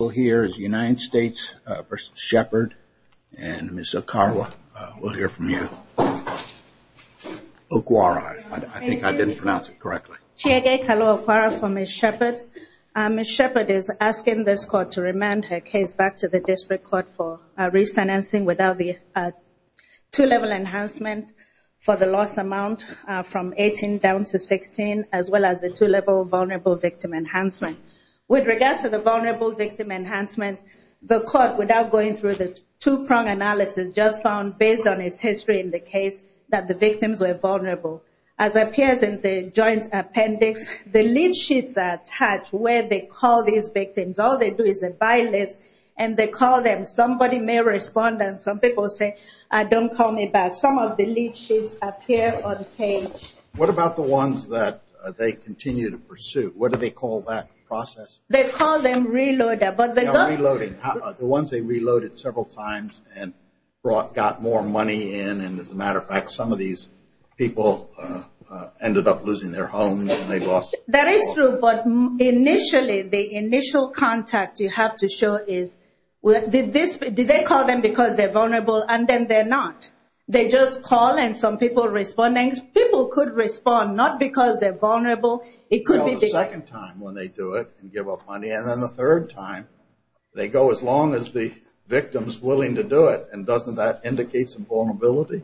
We'll hear is United States v. Shephard, and Ms. Okawa, we'll hear from you. Okawara, I think I didn't pronounce it correctly. Chiege, hello, Okawara for Ms. Shephard. Ms. Shephard is asking this court to remand her case back to the district court for re-sentencing without the two-level enhancement for the loss amount from 18 down to 16, as well as the two-level vulnerable victim enhancement. With regards to the vulnerable victim enhancement, the court, without going through the two-prong analysis, just found, based on its history in the case, that the victims were vulnerable. As appears in the joint appendix, the lead sheets are attached where they call these victims. All they do is a by-list, and they call them. Somebody may respond, and some people say, don't call me back. Some of the lead sheets appear on the page. What about the ones that they continue to pursue? What do they call that process? They call them reloaded, but they don't... Reloading, the ones they reloaded several times and brought, got more money in, and as a matter of fact, some of these people ended up losing their homes, and they lost... That is true, but initially, the initial contact you have to show is, did they call them because they're vulnerable, and then they're not? They just call, and some people respond, and people could respond, not because they're vulnerable. It could be the second time when they do it and give up money, and then the third time, they go as long as the victim's willing to do it, and doesn't that indicate some vulnerability?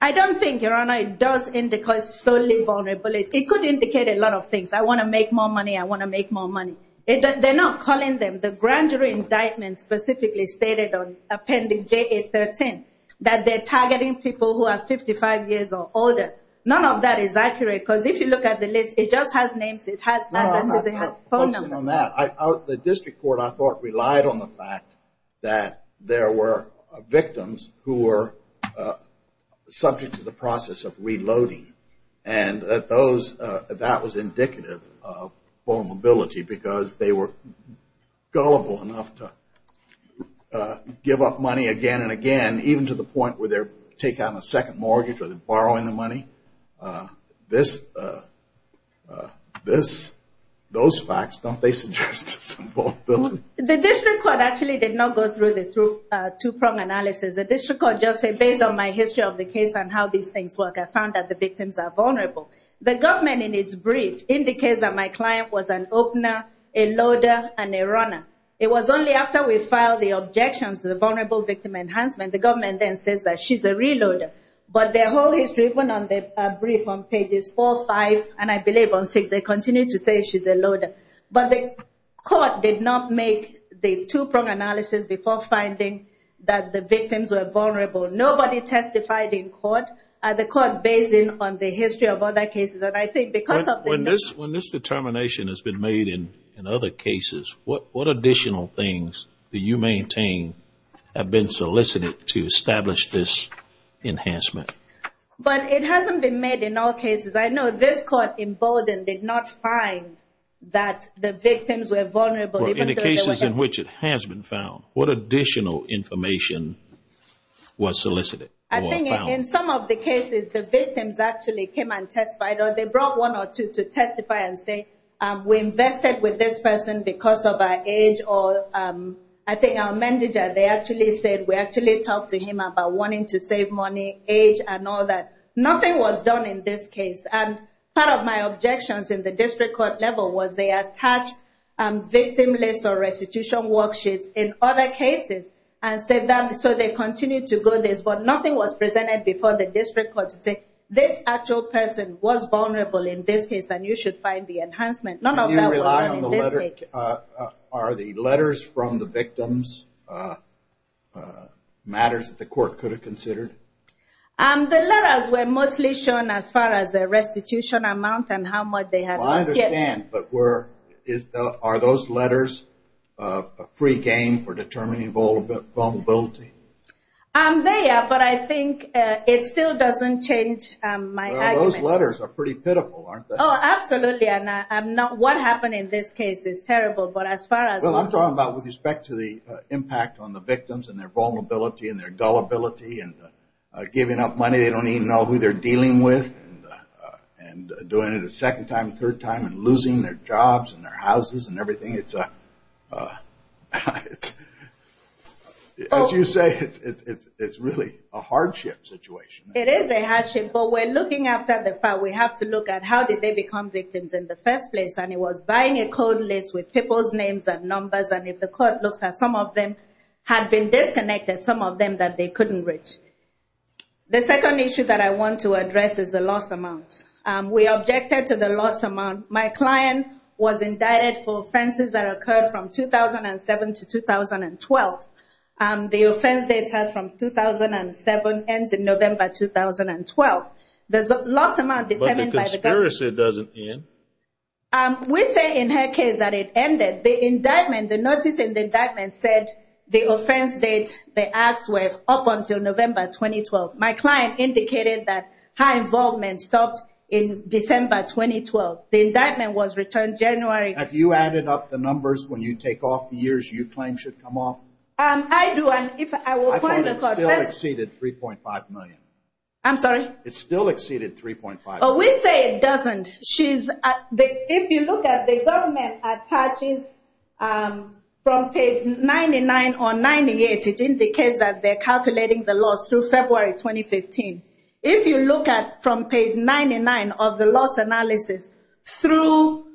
I don't think, Your Honor, it does indicate solely vulnerability. It could indicate a lot of things. I want to make more money. I want to make more money. They're not calling them. The grand jury indictment specifically stated on Appendix JA-13 that they're targeting people who are 55 years or older. None of that is accurate, because if you look at the list, it just has names. It has addresses. It has phone numbers. The District Court, I thought, relied on the fact that there were victims who were subject to the process of reloading, and that was indicative of vulnerability, because they were gullible enough to give up money again and again, even to the point where they're taking out a second mortgage or they're borrowing the money. Those facts, don't they suggest some vulnerability? The District Court actually did not go through the two-prong analysis. The District Court just said, based on my history of the case and how these things work, I found that the victims are vulnerable. The government, in its brief, indicates that my client was an opener, a loader, and a runner. It was only after we filed the objections to the Vulnerable Victim Enhancement that the government then says that she's a reloader. But their whole history, even on the brief on pages 4, 5, and I believe on 6, they continue to say she's a loader. But the court did not make the two-prong analysis before finding that the victims were vulnerable. Nobody testified in court, and the court based it on the history of other cases. And I think because of the... When this determination has been made in other cases, what additional things do you maintain have been solicited to establish this enhancement? But it hasn't been made in all cases. I know this court in Bowdoin did not find that the victims were vulnerable. Well, in the cases in which it has been found, what additional information was solicited or found? I think in some of the cases, the victims actually came and testified, or they brought one or two to testify and say, we invested with this person because of our age, or I think our manager, they actually said we actually talked to him about wanting to save money, age, and all that. Nothing was done in this case. And part of my objections in the district court level was they attached victim lists or restitution worksheets in other cases and said that so they continue to go this. But nothing was presented before the district court to say, this actual person was vulnerable in this case, and you should find the enhancement. None of that was done in this case. Are the letters from the victims matters that the court could have considered? The letters were mostly shown as far as the restitution amount and how much they had lost yet. But are those letters a free game for determining vulnerability? They are, but I think it still doesn't change my argument. Those letters are pretty pitiful, aren't they? Oh, absolutely, and what happened in this case is terrible, but as far as... Well, I'm talking about with respect to the impact on the victims and their vulnerability and their gullibility and giving up money they don't even know who they're dealing with and doing it a second time, third time, and losing their jobs and their houses and everything. It's a, as you say, it's really a hardship situation. It is a hardship, but we're looking after the fact. We have to look at how did they become victims in the first place and it was buying a code list with people's names and numbers and if the court looks at some of them had been disconnected, some of them that they couldn't reach. The second issue that I want to address is the loss amount. We objected to the loss amount. My client was indicted for offenses that occurred from 2007 to 2012. The offense date has from 2007 ends in November 2012. There's a loss amount determined by the government. But the conspiracy doesn't end. We say in her case that it ended. The indictment, the notice in the indictment said the offense date, the acts were up until November 2012. My client indicated that high involvement stopped in December 2012. The indictment was returned January... Have you added up the numbers when you take off the years you claim should come off? I do and if I will point the court... I thought it still exceeded 3.5 million. I'm sorry? It still exceeded 3.5 million. We say it doesn't. If you look at the government attaches from page 99 or 98, it indicates that they're calculating the loss through February 2015. If you look at from page 99 of the loss analysis through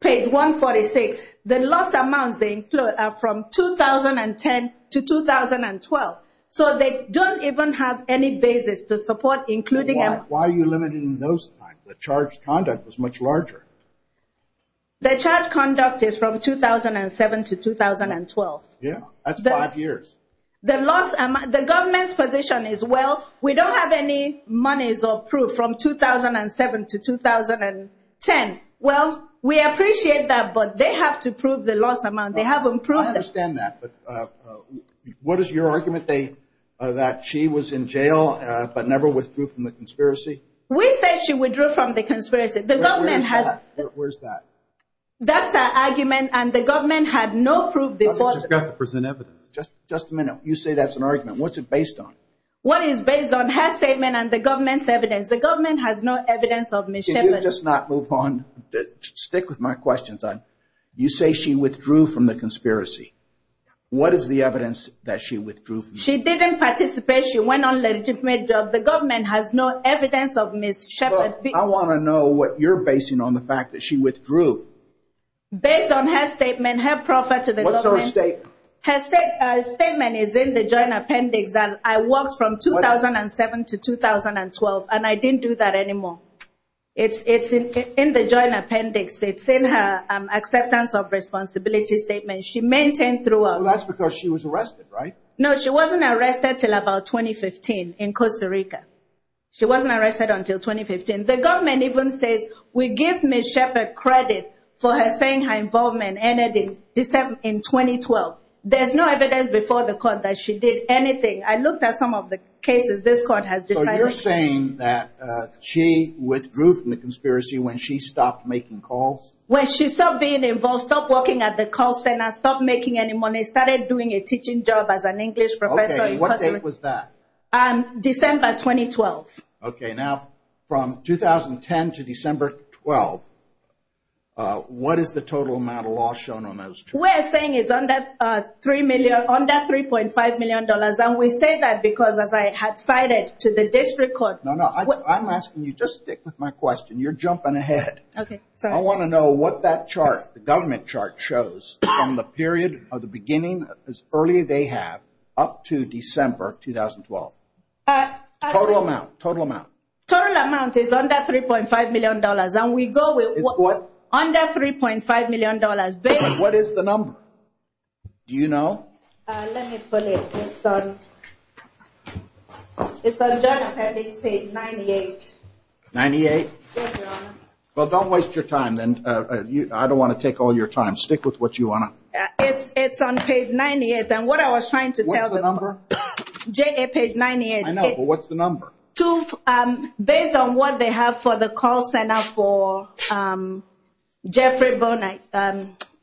page 146, the loss amounts they include are from 2010 to 2012. So they don't even have any basis to support including... Why are you limiting those times? The charge conduct was much larger. The charge conduct is from 2007 to 2012. Yeah, that's five years. The government's position is, well, we don't have any monies approved from 2007 to 2010. Well, we appreciate that but they have to prove the loss amount. They haven't proved it. I understand that. But what is your argument that she was in jail but never withdrew from the conspiracy? We said she withdrew from the conspiracy. The government has... Where's that? That's our argument and the government had no proof before... I just got to present evidence. Just a minute. You say that's an argument. What's it based on? What is based on her statement and the government's evidence? The government has no evidence of mischief... Can you just not move on? Stick with my questions. You say she withdrew from the conspiracy. What is the evidence that she withdrew from the conspiracy? She didn't participate. She went on a legitimate job. The government has no evidence of mischief. I want to know what you're basing on the fact that she withdrew. Based on her statement, her proffer to the government. What's her statement? Her statement is in the joint appendix. I worked from 2007 to 2012 and I didn't do that anymore. It's in the joint appendix. It's in her acceptance of responsibility statement. She maintained throughout. That's because she was arrested, right? No, she wasn't arrested until about 2015 in Costa Rica. She wasn't arrested until 2015. The government even says, we give Ms. Sheppard credit for her saying her involvement ended in 2012. There's no evidence before the court that she did anything. I looked at some of the cases this court has decided... So you're saying that she withdrew from the conspiracy when she stopped making calls? When she stopped being involved, stopped working at the call center, stopped making any money, started doing a teaching job as an English professor... Okay, what date was that? December 2012. Okay, now from 2010 to December 12, what is the total amount of loss shown on those two? We're saying it's under $3.5 million. And we say that because as I had cited to the district court... No, no, I'm asking you just stick with my question. You're jumping ahead. Okay, sorry. I want to know what that chart, the government chart shows from the period of the beginning as early as they have up to December 2012. Total amount, total amount. Total amount is under $3.5 million and we go with... Is what? Under $3.5 million based... What is the number? Do you know? Let me put it, it's on... It's on joint appendix page 98. 98? Well, don't waste your time then. I don't want to take all your time. Stick with what you want to... It's on page 98 and what I was trying to tell them... What's the number? Joint appendix page 98. I know, but what's the number? Based on what they have for the call center for Jeffrey Bonnett,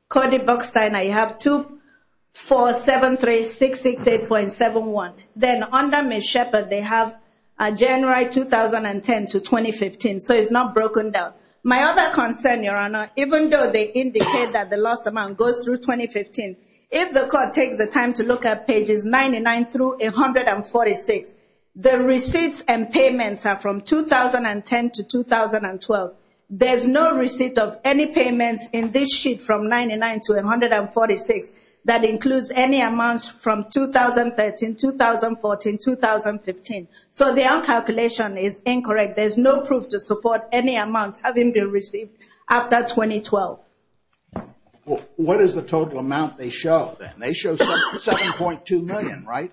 Cody Bucksteiner, you have 2473668.71. Then under Ms. Shepard, they have January 2010 to 2015. So, it's not broken down. My other concern, Your Honor, even though they indicate that the lost amount goes through 2015, if the court takes the time to look at pages 99 through 146, the receipts and payments are from 2010 to 2012. There's no receipt of any payments in this sheet from 99 to 146 that includes any amounts from 2013, 2014, 2015. So, their calculation is incorrect. There's no proof to support any amounts having been received after 2012. What is the total amount they show, then? They show 7.2 million, right?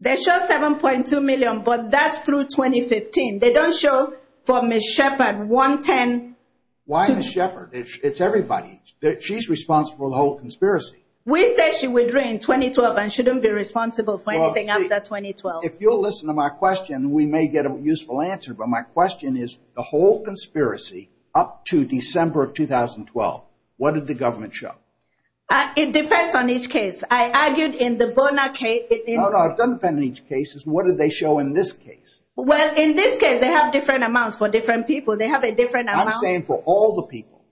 They show 7.2 million, but that's through 2015. They don't show from Ms. Shepard, 110... Why Ms. Shepard? It's everybody. She's responsible for the whole conspiracy. We said she withdrew in 2012 and she didn't be responsible for anything after 2012. If you'll listen to my question, we may get a useful answer, but my question is the whole conspiracy up to December of 2012, what did the government show? It depends on each case. I argued in the Bonner case... No, no, it doesn't depend on each case. It's what did they show in this case. Well, in this case, they have different amounts for different people. They have a different amount... I'm saying for all the people.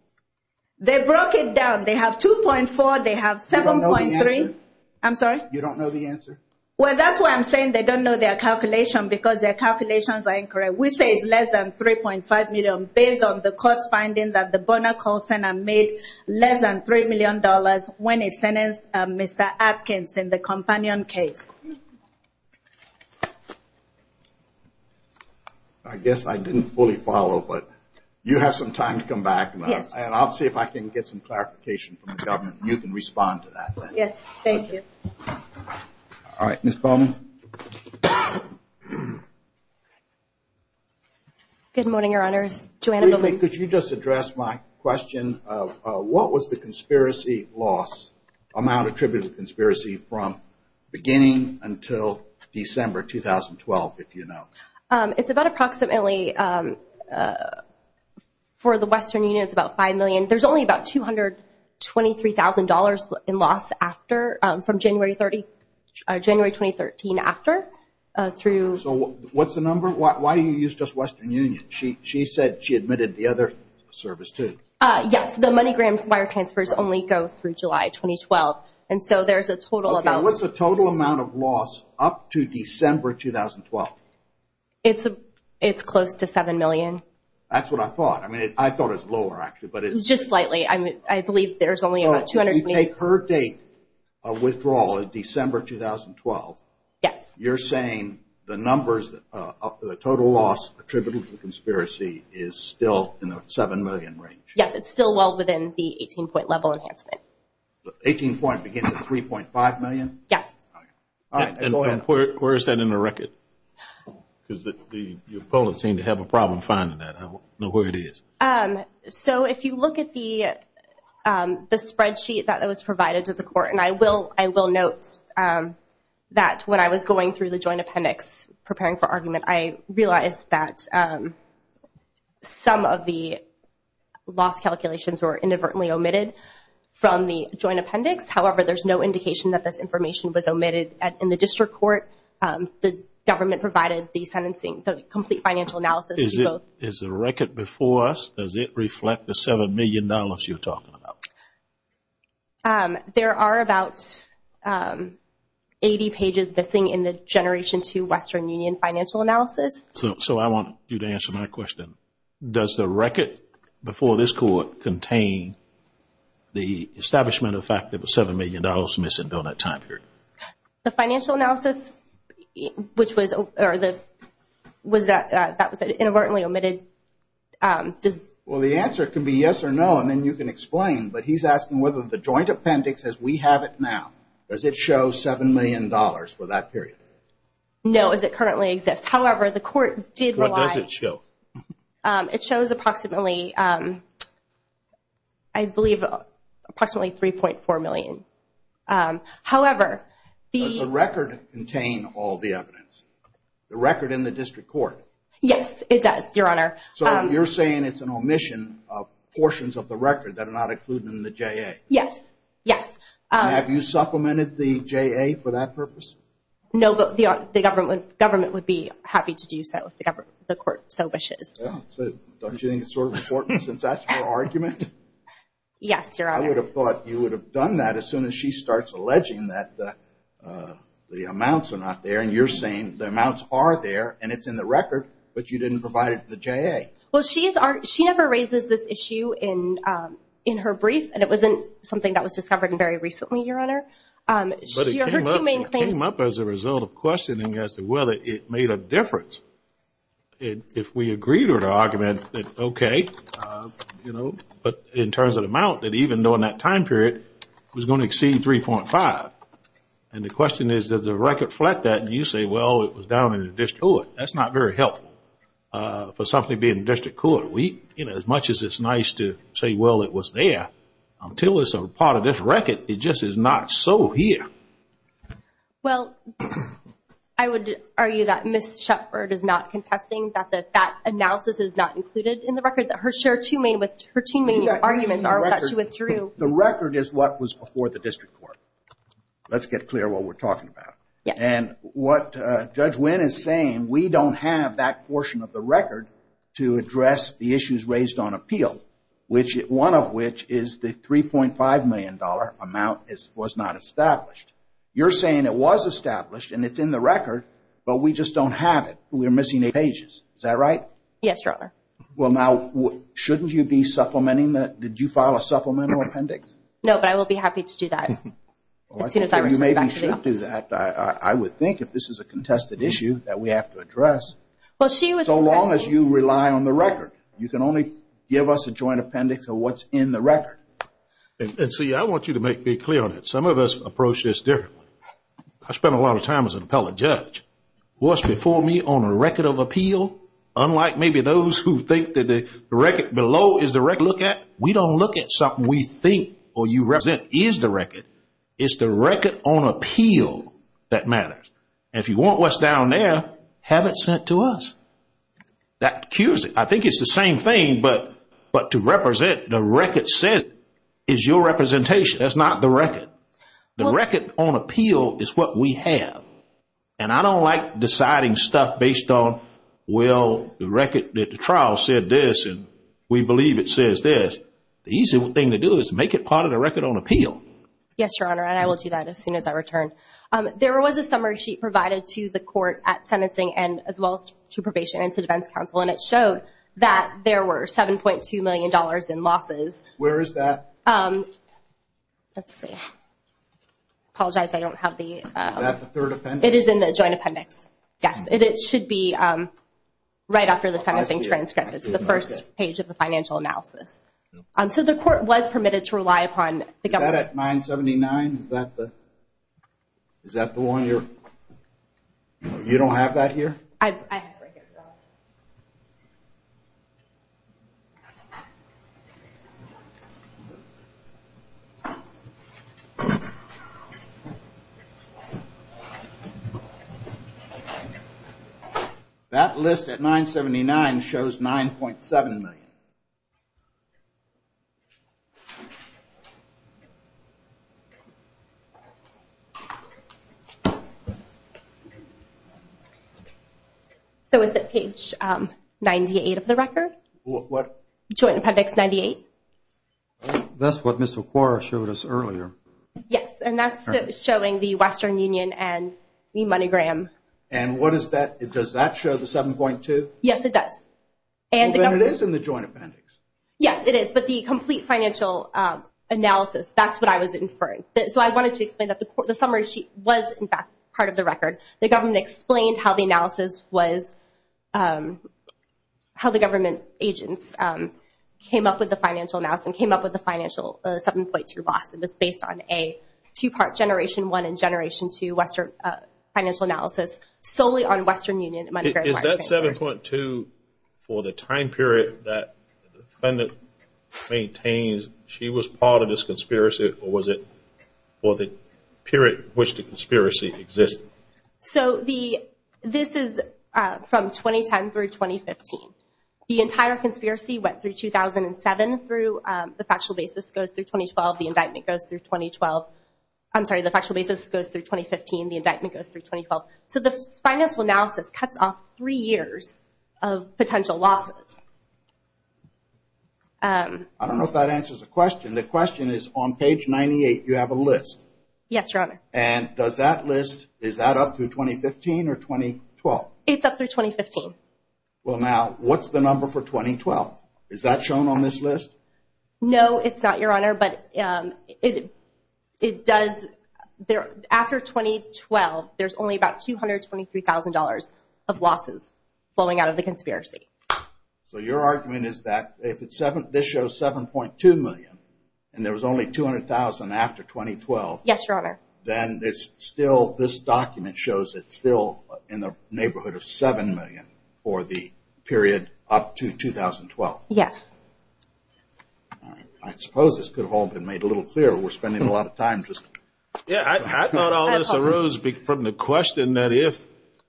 They broke it down. They have 2.4, they have 7.3... You don't know the answer? I'm sorry? You don't know the answer? Well, that's why I'm saying they don't know their calculation because their calculations are incorrect. We say it's less than $3.5 million based on the court's finding that the Bonner call center made less than $3 million when it sentenced Mr. Atkins in the Companion case. I guess I didn't fully follow, but you have some time to come back. Yes. And I'll see if I can get some clarification from the government. You can respond to that then. Yes, thank you. All right, Ms. Bonner. Good morning, Your Honors. Joanna... Could you just address my question of what was the conspiracy loss amount attributed to conspiracy from beginning until December 2012, if you know? It's about approximately... For the Western Union, it's about $5 million. There's only about $223,000 in loss after... from January 2013 after through... So, what's the number? Why do you use just Western Union? She said she admitted the other service, too. Yes, the MoneyGram wire transfers only go through July 2012. And so, there's a total of... Okay, what's the total amount of loss up to December 2012? It's close to $7 million. That's what I thought. I mean, I thought it was lower, actually, but it's... Just slightly. I mean, I believe there's only about $223,000. You take her date of withdrawal in December 2012. Yes. You're saying the numbers, the total loss attributed to the conspiracy is still in the $7 million range? Yes, it's still well within the 18-point level enhancement. 18-point begins at $3.5 million? Yes. All right, then go ahead. Where is that in the record? Because the opponents seem to have a problem finding that. I don't know where it is. So, if you look at the spreadsheet that was provided to the court, and I will note that when I was going through the joint appendix preparing for argument, I realized that some of the loss calculations were inadvertently omitted from the joint appendix. However, there's no indication that this information was omitted. In the district court, the government provided the sentencing, the complete financial analysis. Is the record before us, does it reflect the $7 million you're talking about? There are about 80 pages missing in the Generation II Western Union financial analysis. So, I want you to answer my question. Does the record before this court contain the establishment of the fact that $7 million was missing during that time period? The financial analysis, that was inadvertently omitted. Well, the answer can be yes or no, and then you can explain, but he's asking whether the joint appendix as we have it now, does it show $7 million for that period? No, as it currently exists. However, the court did rely... What does it show? It shows approximately, I believe approximately $3.4 million. However, the... Does the record contain all the evidence? The record in the district court? So, you're saying it's an omission of portions of the record that are not included in the JA? Yes, yes. Have you supplemented the JA for that purpose? No, but the government would be happy to do so if the court so wishes. Yeah, so don't you think it's sort of important since that's your argument? Yes, Your Honor. I would have thought you would have done that as soon as she starts alleging that the amounts are not there, and you're saying the amounts are there and it's in the record, but you didn't provide it to the JA. Well, she never raises this issue in her brief, and it wasn't something that was discovered very recently, Your Honor. But it came up as a result of questioning as to whether it made a difference if we agreed with her argument that, okay, you know, but in terms of the amount that even during that time period was going to exceed 3.5. And the question is, does the record flat that? And you say, well, it was down in the district court. That's not very helpful for something being in the district court. We, you know, as much as it's nice to say, well, it was there, until it's a part of this record, it just is not so here. Well, I would argue that Ms. Shepard is not contesting that that analysis is not included in the record that her two main arguments are that she withdrew. The record is what was before the district court. Let's get clear what we're talking about. And what Judge Wynn is saying, we don't have that portion of the record to address the issues raised on appeal, one of which is the $3.5 million amount was not established. You're saying it was established and it's in the record, but we just don't have it. We're missing eight pages. Is that right? Yes, Your Honor. Well, now, shouldn't you be supplementing that? Did you file a supplemental appendix? No, but I will be happy to do that I would think if this is a contested issue that we have to address. So long as you rely on the record. You can only give us a joint appendix of what's in the record. And see, I want you to make me clear on it. Some of us approach this differently. I spent a lot of time as an appellate judge. What's before me on a record of appeal, unlike maybe those who think that the record below is the record to look at, we don't look at something we think or you represent is the record. It's the record on appeal that matters. And if you want what's down there, have it sent to us. That cures it. I think it's the same thing, but to represent the record said is your representation. That's not the record. The record on appeal is what we have. And I don't like deciding stuff based on, well, the record that the trial said this and we believe it says this. The easiest thing to do is make it part of the record on appeal. Yes, Your Honor, and I will do that as soon as I return. There was a summary sheet provided to the court at sentencing and as well as to probation and to defense counsel, and it showed that there were $7.2 million in losses. Where is that? Let's see. Apologize, I don't have the... Is that the third appendix? It is in the joint appendix. Yes, it should be right after the sentencing transcript. It's the first page of the financial analysis. So the court was permitted to rely upon the government. Is that at 979? Is that the one? You don't have that here? I have it right here, Your Honor. That list at 979 shows $9.7 million. So is it page 98 of the record? What? Joint appendix 98. That's what Mr. Quarra showed us earlier. Yes, and that's showing the Western Union and the MoneyGram. And what is that? Does that show the $7.2? Yes, it does. Well, then it is in the joint appendix. Yes, it is, but the complete financial analysis, that's what I was inferring. So I wanted to explain that the summary sheet was, in fact, part of the record. The government explained how the analysis was, how the government agents came up with the financial analysis and came up with the financial 7.2 loss. It was based on a two-part generation one and generation two Western financial analysis solely on Western Union and MoneyGram. Is that 7.2 for the time period that the defendant maintains she was part of this conspiracy or was it for the period in which the conspiracy existed? So this is from 2010 through 2015. The entire conspiracy went through 2007. The factual basis goes through 2012. The indictment goes through 2012. I'm sorry, the factual basis goes through 2015. The indictment goes through 2012. So the financial analysis cuts off three years of potential losses. I don't know if that answers the question. And the question is, on page 98 you have a list. Yes, Your Honor. And does that list, is that up through 2015 or 2012? It's up through 2015. Well, now, what's the number for 2012? Is that shown on this list? No, it's not, Your Honor, but it does. After 2012, there's only about $223,000 of losses flowing out of the conspiracy. So your argument is that if this shows $7.2 million and there was only $200,000 after 2012, then this document shows it's still in the neighborhood of $7 million for the period up to 2012. Yes. I suppose this could have all been made a little clearer. We're spending a lot of time just talking. I thought all this arose from the question that if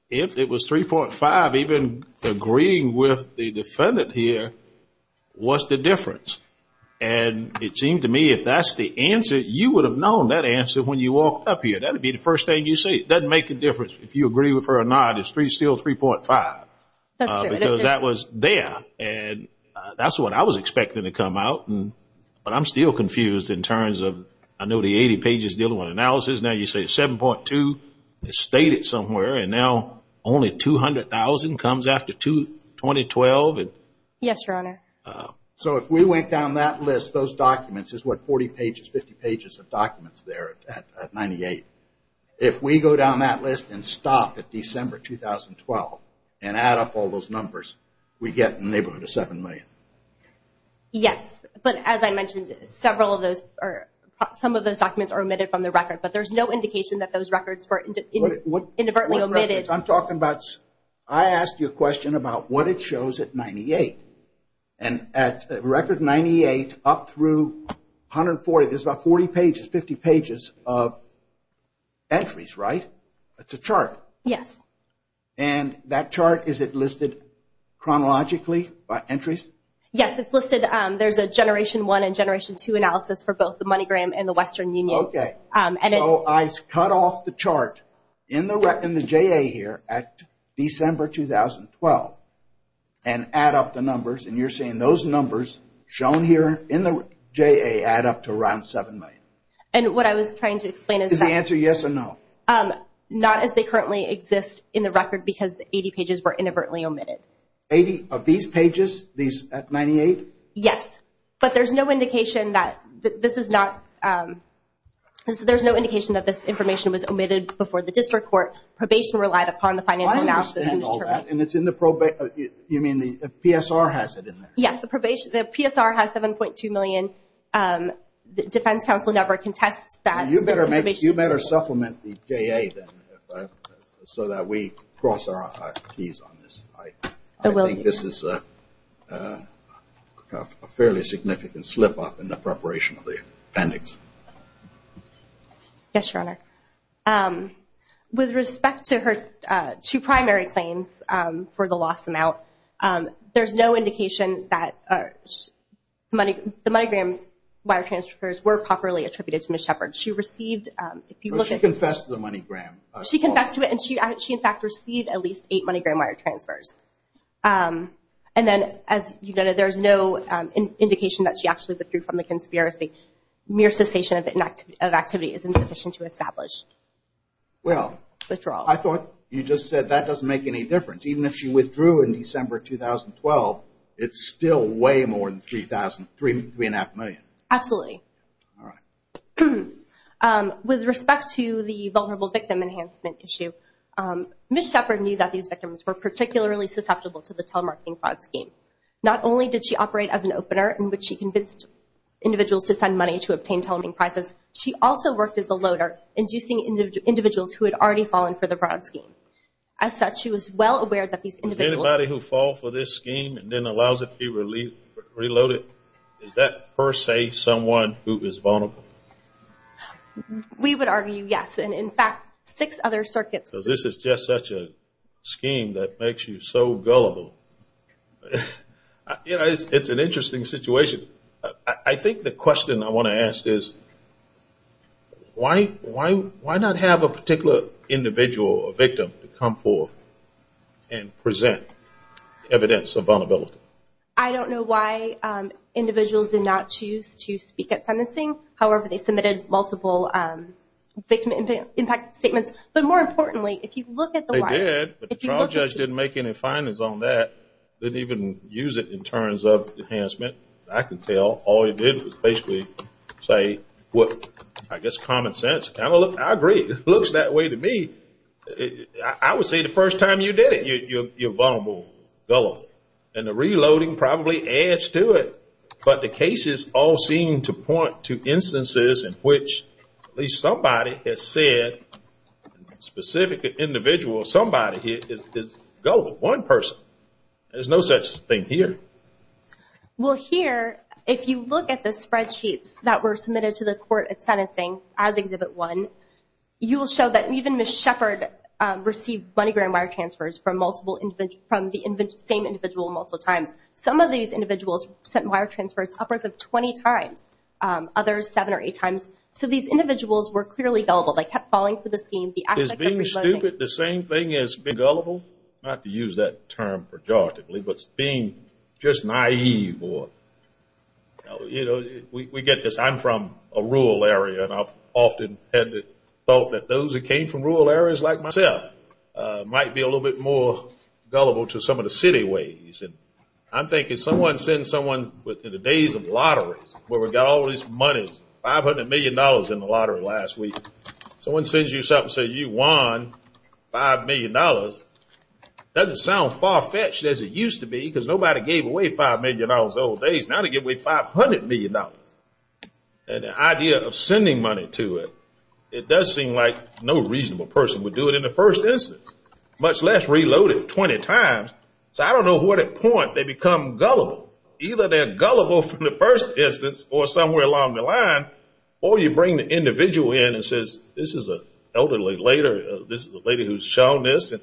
it was 3.5, even agreeing with the defendant here, what's the difference? And it seemed to me if that's the answer, you would have known that answer when you walked up here. That would be the first thing you see. It doesn't make a difference if you agree with her or not. It's still 3.5. That's true. Because that was there, and that's what I was expecting to come out. But I'm still confused in terms of I know the 80 pages dealing with analysis. Now you say 7.2 is stated somewhere, and now only $200,000 comes after 2012? Yes, Your Honor. So if we went down that list, those documents, it's what, 40 pages, 50 pages of documents there at 98. If we go down that list and stop at December 2012 and add up all those numbers, we get neighborhood of $7 million. Yes, but as I mentioned, some of those documents are omitted from the record, but there's no indication that those records were inadvertently omitted. I asked you a question about what it shows at 98. At record 98 up through 140, there's about 40 pages, 50 pages of entries, right? It's a chart. Yes. And that chart, is it listed chronologically by entries? Yes, it's listed. There's a generation one and generation two analysis for both the MoneyGram and the Western Union. Okay. So I cut off the chart in the JA here at December 2012 and add up the numbers, and you're saying those numbers shown here in the JA add up to around $7 million. And what I was trying to explain is that- Is the answer yes or no? Not as they currently exist in the record because the 80 pages were inadvertently omitted. 80 of these pages, these at 98? Yes. But there's no indication that this information was omitted before the district court. Probation relied upon the financial analysis. I don't understand all that. And it's in the probation. You mean the PSR has it in there? Yes. The PSR has $7.2 million. The defense counsel never contests that. You better supplement the JA then so that we cross our keys on this. I think this is a fairly significant slip-up in the preparation of the appendix. Yes, Your Honor. With respect to her two primary claims for the loss amount, there's no indication that the MoneyGram wire transfers were properly attributed to Ms. Shepard. She received, if you look at- She confessed to the MoneyGram. She confessed to it, and she, in fact, received at least eight MoneyGram wire transfers. And then, as you noted, there's no indication that she actually withdrew from the conspiracy. Mere cessation of activity is insufficient to establish withdrawal. Well, I thought you just said that doesn't make any difference. Even if she withdrew in December 2012, it's still way more than $3.5 million. Absolutely. All right. With respect to the vulnerable victim enhancement issue, Ms. Shepard knew that these victims were particularly susceptible to the telemarketing fraud scheme. Not only did she operate as an opener in which she convinced individuals to send money to obtain telemarketing prizes, she also worked as a loader, inducing individuals who had already fallen for the fraud scheme. As such, she was well aware that these individuals- We would argue yes. And, in fact, six other circuits- Because this is just such a scheme that makes you so gullible. It's an interesting situation. I think the question I want to ask is, why not have a particular individual or victim come forth and present evidence of vulnerability? I don't know why individuals did not choose to speak at sentencing. However, they submitted multiple victim impact statements. But, more importantly, if you look at the- They did, but the trial judge didn't make any findings on that. They didn't even use it in terms of enhancement. I can tell all they did was basically say, I guess, common sense. I agree. It looks that way to me. I would say the first time you did it, you're vulnerable, gullible. And the reloading probably adds to it. But the cases all seem to point to instances in which at least somebody has said, a specific individual, somebody is gullible, one person. There's no such thing here. Well, here, if you look at the spreadsheets that were submitted to the court at sentencing as Exhibit 1, you will show that even Ms. Shepard received money-grant wire transfers from the same individual multiple times. Some of these individuals sent wire transfers upwards of 20 times, others seven or eight times. So these individuals were clearly gullible. They kept falling for the scheme. Is being stupid the same thing as being gullible? Not to use that term pejoratively, but being just naive or, you know, we get this. I'm from a rural area, and I've often had the thought that those who came from rural areas, like myself, might be a little bit more gullible to some of the city ways. And I'm thinking someone sends someone in the days of lotteries where we've got all this money, $500 million in the lottery last week. Someone sends you something and says you won $5 million. Doesn't sound far-fetched as it used to be because nobody gave away $5 million in those old days. Now they give away $500 million. And the idea of sending money to it, it does seem like no reasonable person would do it in the first instance, much less reload it 20 times. So I don't know to what point they become gullible. Either they're gullible from the first instance or somewhere along the line, or you bring the individual in and says this is an elderly lady, this is a lady who's shown this, and,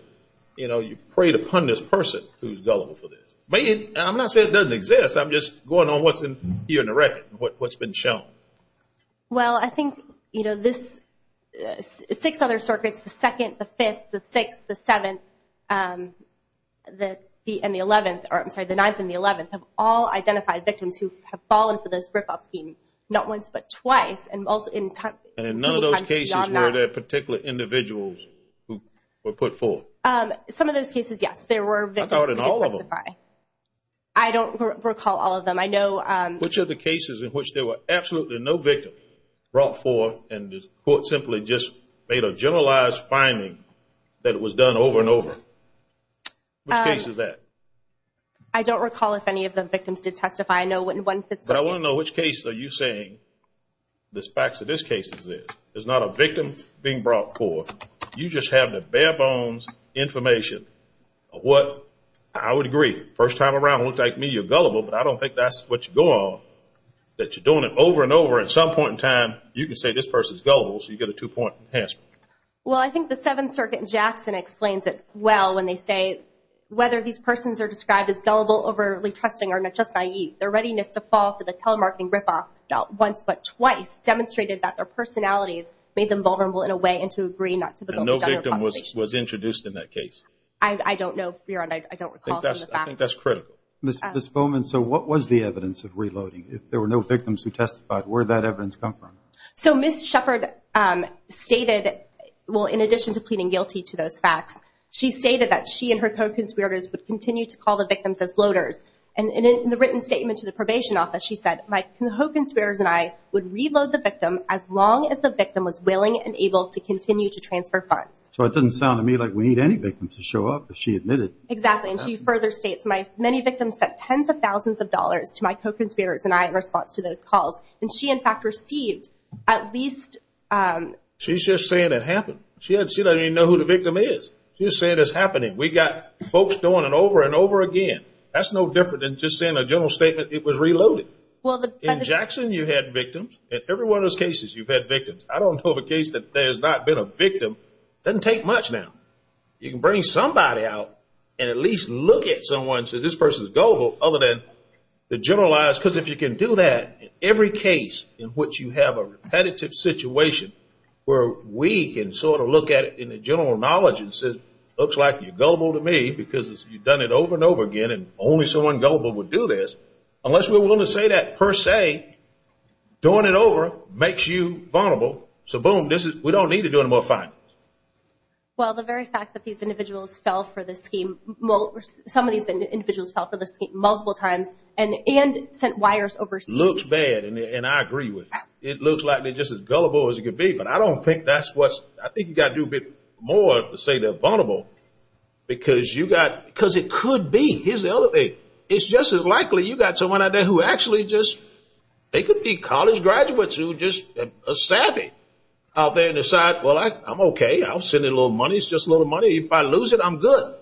you know, you preyed upon this person who's gullible for this. I'm not saying it doesn't exist. I'm just going on what's here in the record, what's been shown. Well, I think, you know, this six other circuits, the second, the fifth, the sixth, the seventh, and the eleventh, or I'm sorry, the ninth and the eleventh, have all identified victims who have fallen for this rip-off scheme, not once but twice. And in none of those cases were there particular individuals who were put forth. Some of those cases, yes, there were victims. I don't recall all of them. Which of the cases in which there were absolutely no victims brought forth and the court simply just made a generalized finding that it was done over and over? Which case is that? I don't recall if any of the victims did testify. I know in one particular case. But I want to know which case are you saying the facts of this case is this. There's not a victim being brought forth. You just have the bare bones information of what I would agree, first time around, it looks like to me you're gullible, but I don't think that's what you go on, that you're doing it over and over and at some point in time you can say this person's gullible, so you get a two-point enhancement. Well, I think the Seventh Circuit in Jackson explains it well when they say, whether these persons are described as gullible, overly trusting, or not just naïve, their readiness to fall for the telemarketing ripoff, not once but twice, demonstrated that their personalities made them vulnerable in a way and to agree not to be gullible. And no victim was introduced in that case? I don't know, Your Honor. I don't recall from the facts. I think that's critical. Ms. Bowman, so what was the evidence of reloading? If there were no victims who testified, where did that evidence come from? So Ms. Shepard stated, well, in addition to pleading guilty to those facts, she stated that she and her co-conspirators would continue to call the victims as loaders. And in the written statement to the probation office, she said, my co-conspirators and I would reload the victim as long as the victim was willing and able to continue to transfer funds. So it doesn't sound to me like we need any victims to show up, but she admitted. Exactly, and she further states, many victims spent tens of thousands of dollars to my co-conspirators and I in response to those calls. And she, in fact, received at least. She's just saying it happened. She doesn't even know who the victim is. She's saying it's happening. We got folks doing it over and over again. That's no different than just saying a general statement it was reloaded. In Jackson, you had victims. In every one of those cases, you've had victims. I don't know of a case that there has not been a victim. It doesn't take much now. You can bring somebody out and at least look at someone and say, this person is gullible, other than the generalize. Because if you can do that in every case in which you have a repetitive situation where we can sort of look at it in the general knowledge and say it looks like you're gullible to me because you've done it over and over again and only someone gullible would do this. Unless we're willing to say that per se, doing it over makes you vulnerable. So, boom, we don't need to do any more findings. Well, the very fact that these individuals fell for this scheme, some of these individuals fell for this scheme multiple times and sent wires overseas. It looks bad, and I agree with you. It looks likely just as gullible as it could be, but I don't think that's what's, I think you've got to do a bit more to say they're vulnerable because it could be. Here's the other thing. It's just as likely you've got someone out there who actually just, they could be college graduates who are just savvy out there and decide, well, I'm okay. I'll send in a little money. It's just a little money. If I lose it, I'm good.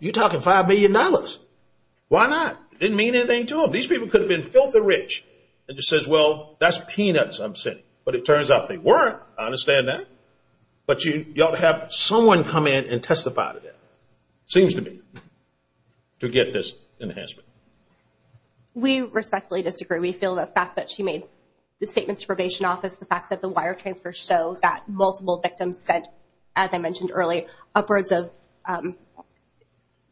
You're talking $5 million. Why not? It didn't mean anything to them. These people could have been filthy rich. It just says, well, that's peanuts I'm sending. But it turns out they weren't. I understand that. But you ought to have someone come in and testify to that. It seems to me to get this enhancement. We respectfully disagree. We feel the fact that she made the statements to probation office, the fact that the wire transfers show that multiple victims sent, as I mentioned earlier, upwards of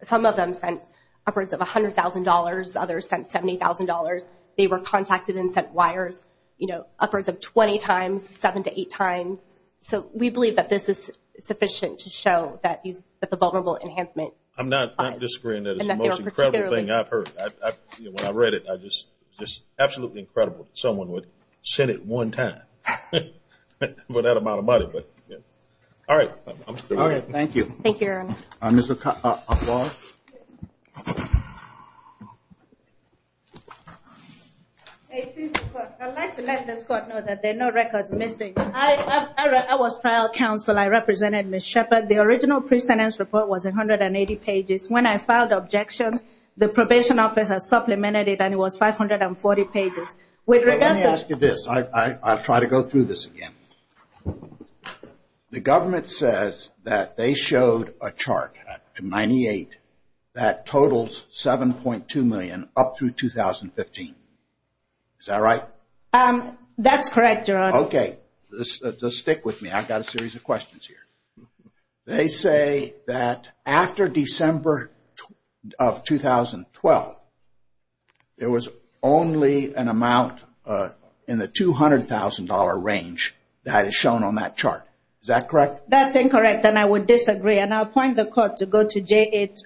some of them sent upwards of $100,000. Others sent $70,000. They were contacted and sent wires, you know, upwards of 20 times, seven to eight times. So we believe that this is sufficient to show that the vulnerable enhancement. I'm not disagreeing that it's the most incredible thing I've heard. When I read it, it was just absolutely incredible that someone would send it one time for that amount of money. All right. Thank you. Thank you, Aaron. Ms. O'Connell. I'd like to let this court know that there are no records missing. I was trial counsel. I represented Ms. Shepard. The original pre-sentence report was 180 pages. When I filed objections, the probation office has supplemented it, and it was 540 pages. Let me ask you this. I'll try to go through this again. The government says that they showed a chart in 98 that totals $7.2 million up through 2015. Is that right? That's correct, Your Honor. Okay. Just stick with me. I've got a series of questions here. They say that after December of 2012, there was only an amount in the $200,000 range that is shown on that chart. Is that correct? That's incorrect, and I would disagree. I'll point the court to go to page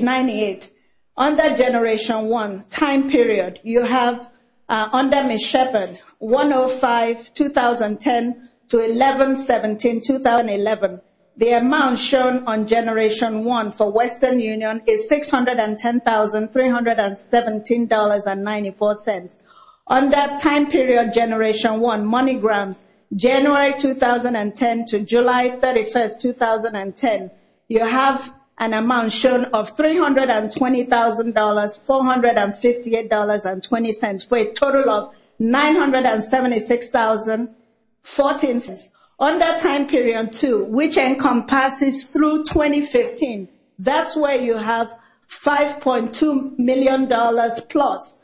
98. On that Generation 1 time period, you have, under Ms. Shepard, 105-2010-11-17-2011. The amount shown on Generation 1 for Western Union is $610,317.94. On that time period, Generation 1, Moneygrams, January 2010 to July 31, 2010, you have an amount shown of $320,000, $458.20 for a total of $976,014. On that time period, too, which encompasses through 2015, that's where you have $5.2 million plus.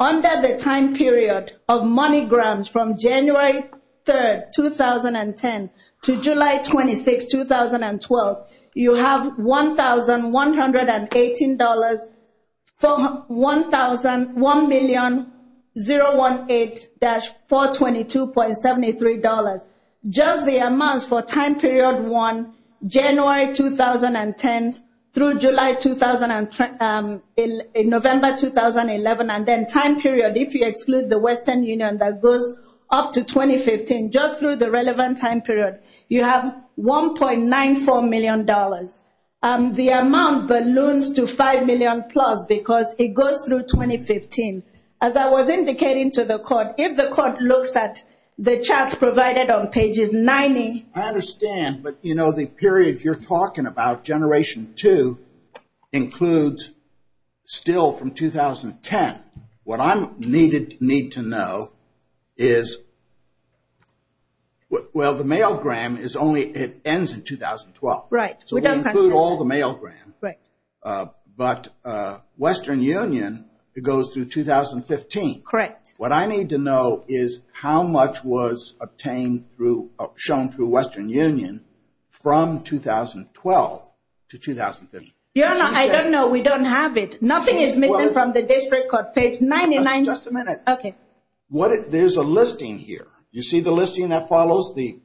Under the time period of Moneygrams from January 3, 2010 to July 26, 2012, you have $1,118,001,018-422.73. Just the amounts for time period 1, January 2010 through July 2011, November 2011, and then time period, if you exclude the Western Union that goes up to 2015, just through the relevant time period, you have $1.94 million. The amount balloons to $5 million plus because it goes through 2015. As I was indicating to the court, if the court looks at the charts provided on pages 90. I understand, but you know, the period you're talking about, Generation 2, includes still from 2010. What I need to know is, well, the Mailgram is only, it ends in 2012. Right. So we don't include all the Mailgram, but Western Union, it goes through 2015. Correct. What I need to know is how much was shown through Western Union from 2012 to 2015. Your Honor, I don't know. We don't have it. Nothing is missing from the district court page 99. Just a minute. Okay. There's a listing here. You see the listing that follows these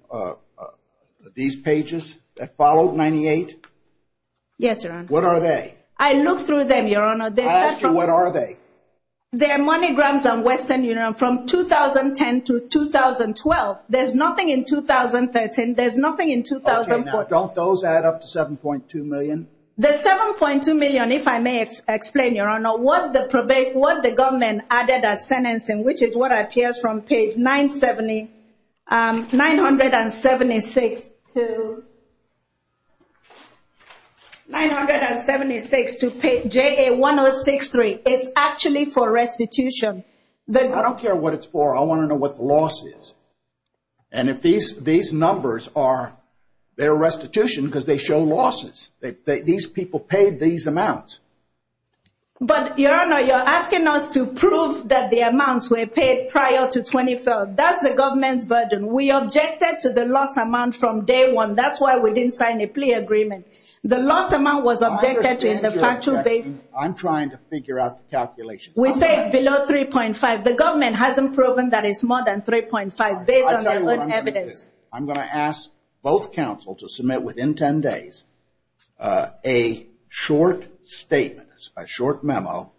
pages that follow 98? Yes, Your Honor. What are they? I looked through them, Your Honor. I asked you, what are they? They're Moneygrams on Western Union from 2010 to 2012. There's nothing in 2013. There's nothing in 2014. Okay. Now, don't those add up to $7.2 million? The $7.2 million, if I may explain, Your Honor, what the government added as sentencing, which is what appears from page 976 to JA1063, is actually for restitution. I don't care what it's for. I want to know what the loss is. And if these numbers are their restitution because they show losses. These people paid these amounts. But, Your Honor, you're asking us to prove that the amounts were paid prior to 2012. That's the government's burden. We objected to the loss amount from day one. That's why we didn't sign a plea agreement. The loss amount was objected to in the factual basis. I'm trying to figure out the calculation. We say it's below 3.5. The government hasn't proven that it's more than 3.5 based on their own evidence. I'm going to ask both counsel to submit within 10 days a short statement, a short memo,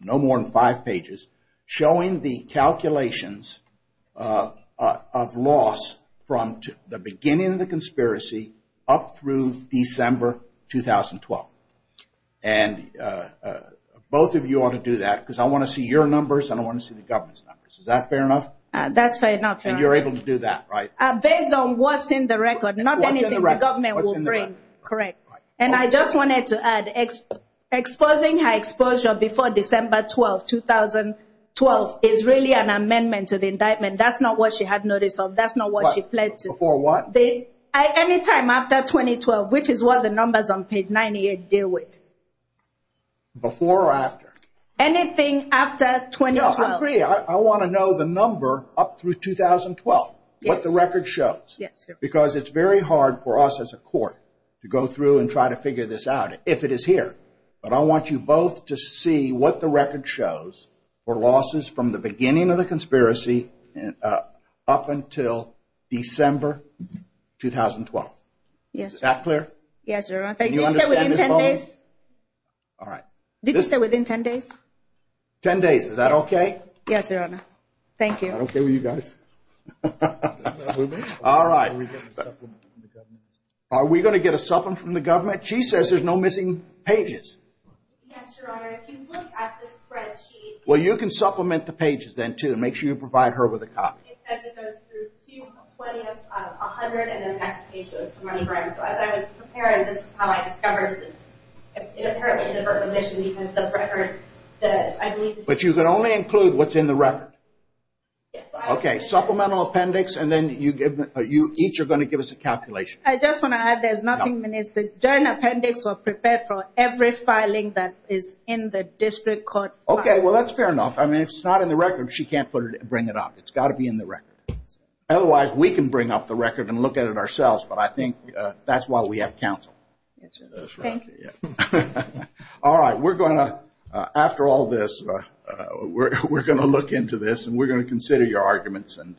no more than five pages, showing the calculations of loss from the beginning of the conspiracy up through December 2012. And both of you ought to do that because I want to see your numbers and I want to see the government's numbers. Is that fair enough? That's fair enough. And you're able to do that, right? Based on what's in the record, not anything the government will bring. Correct. And I just wanted to add, exposing her exposure before December 12, 2012, is really an amendment to the indictment. That's not what she had notice of. That's not what she pled to. Before what? Any time after 2012, which is what the numbers on page 98 deal with. Before or after? Anything after 2012. No, I agree. I want to know the number up through 2012, what the record shows. Yes, sir. Because it's very hard for us as a court to go through and try to figure this out if it is here. But I want you both to see what the record shows for losses from the beginning of the conspiracy up until December 2012. Yes, sir. Is that clear? Yes, sir. Can you understand this moment? All right. Did you say within 10 days? 10 days. 10 days. Is that okay? Yes, Your Honor. Thank you. Is that okay with you guys? All right. Are we going to get a supplement from the government? Are we going to get a supplement from the government? She says there's no missing pages. Yes, Your Honor. If you look at the spreadsheet. Well, you can supplement the pages then, too. Make sure you provide her with a copy. It says it goes through 2, 20, 100, and then the next page goes to MoneyGram. So as I was preparing, this is how I discovered this. It apparently didn't hurt the mission because of the record. But you can only include what's in the record? Yes, Your Honor. Okay. Supplemental appendix, and then you each are going to give us a calculation. I just want to add there's nothing missing. The joint appendix was prepared for every filing that is in the district court file. Okay. Well, that's fair enough. I mean, if it's not in the record, she can't bring it up. It's got to be in the record. Otherwise, we can bring up the record and look at it ourselves, but I think that's why we have counsel. That's right. Thank you. All right. We're going to, after all this, we're going to look into this, and we're going to consider your arguments and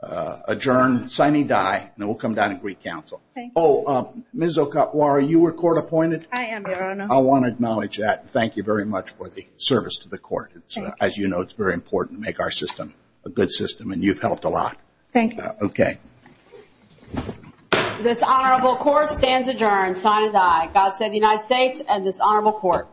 adjourn. Signing die, and then we'll come down and greet counsel. Thank you. Oh, Ms. Okapuara, you were court appointed? I am, Your Honor. I want to acknowledge that. Thank you very much for the service to the court. As you know, it's very important to make our system a good system, and you've helped a lot. Thank you. Okay. This honorable court stands adjourned. Sign and die. God save the United States and this honorable court.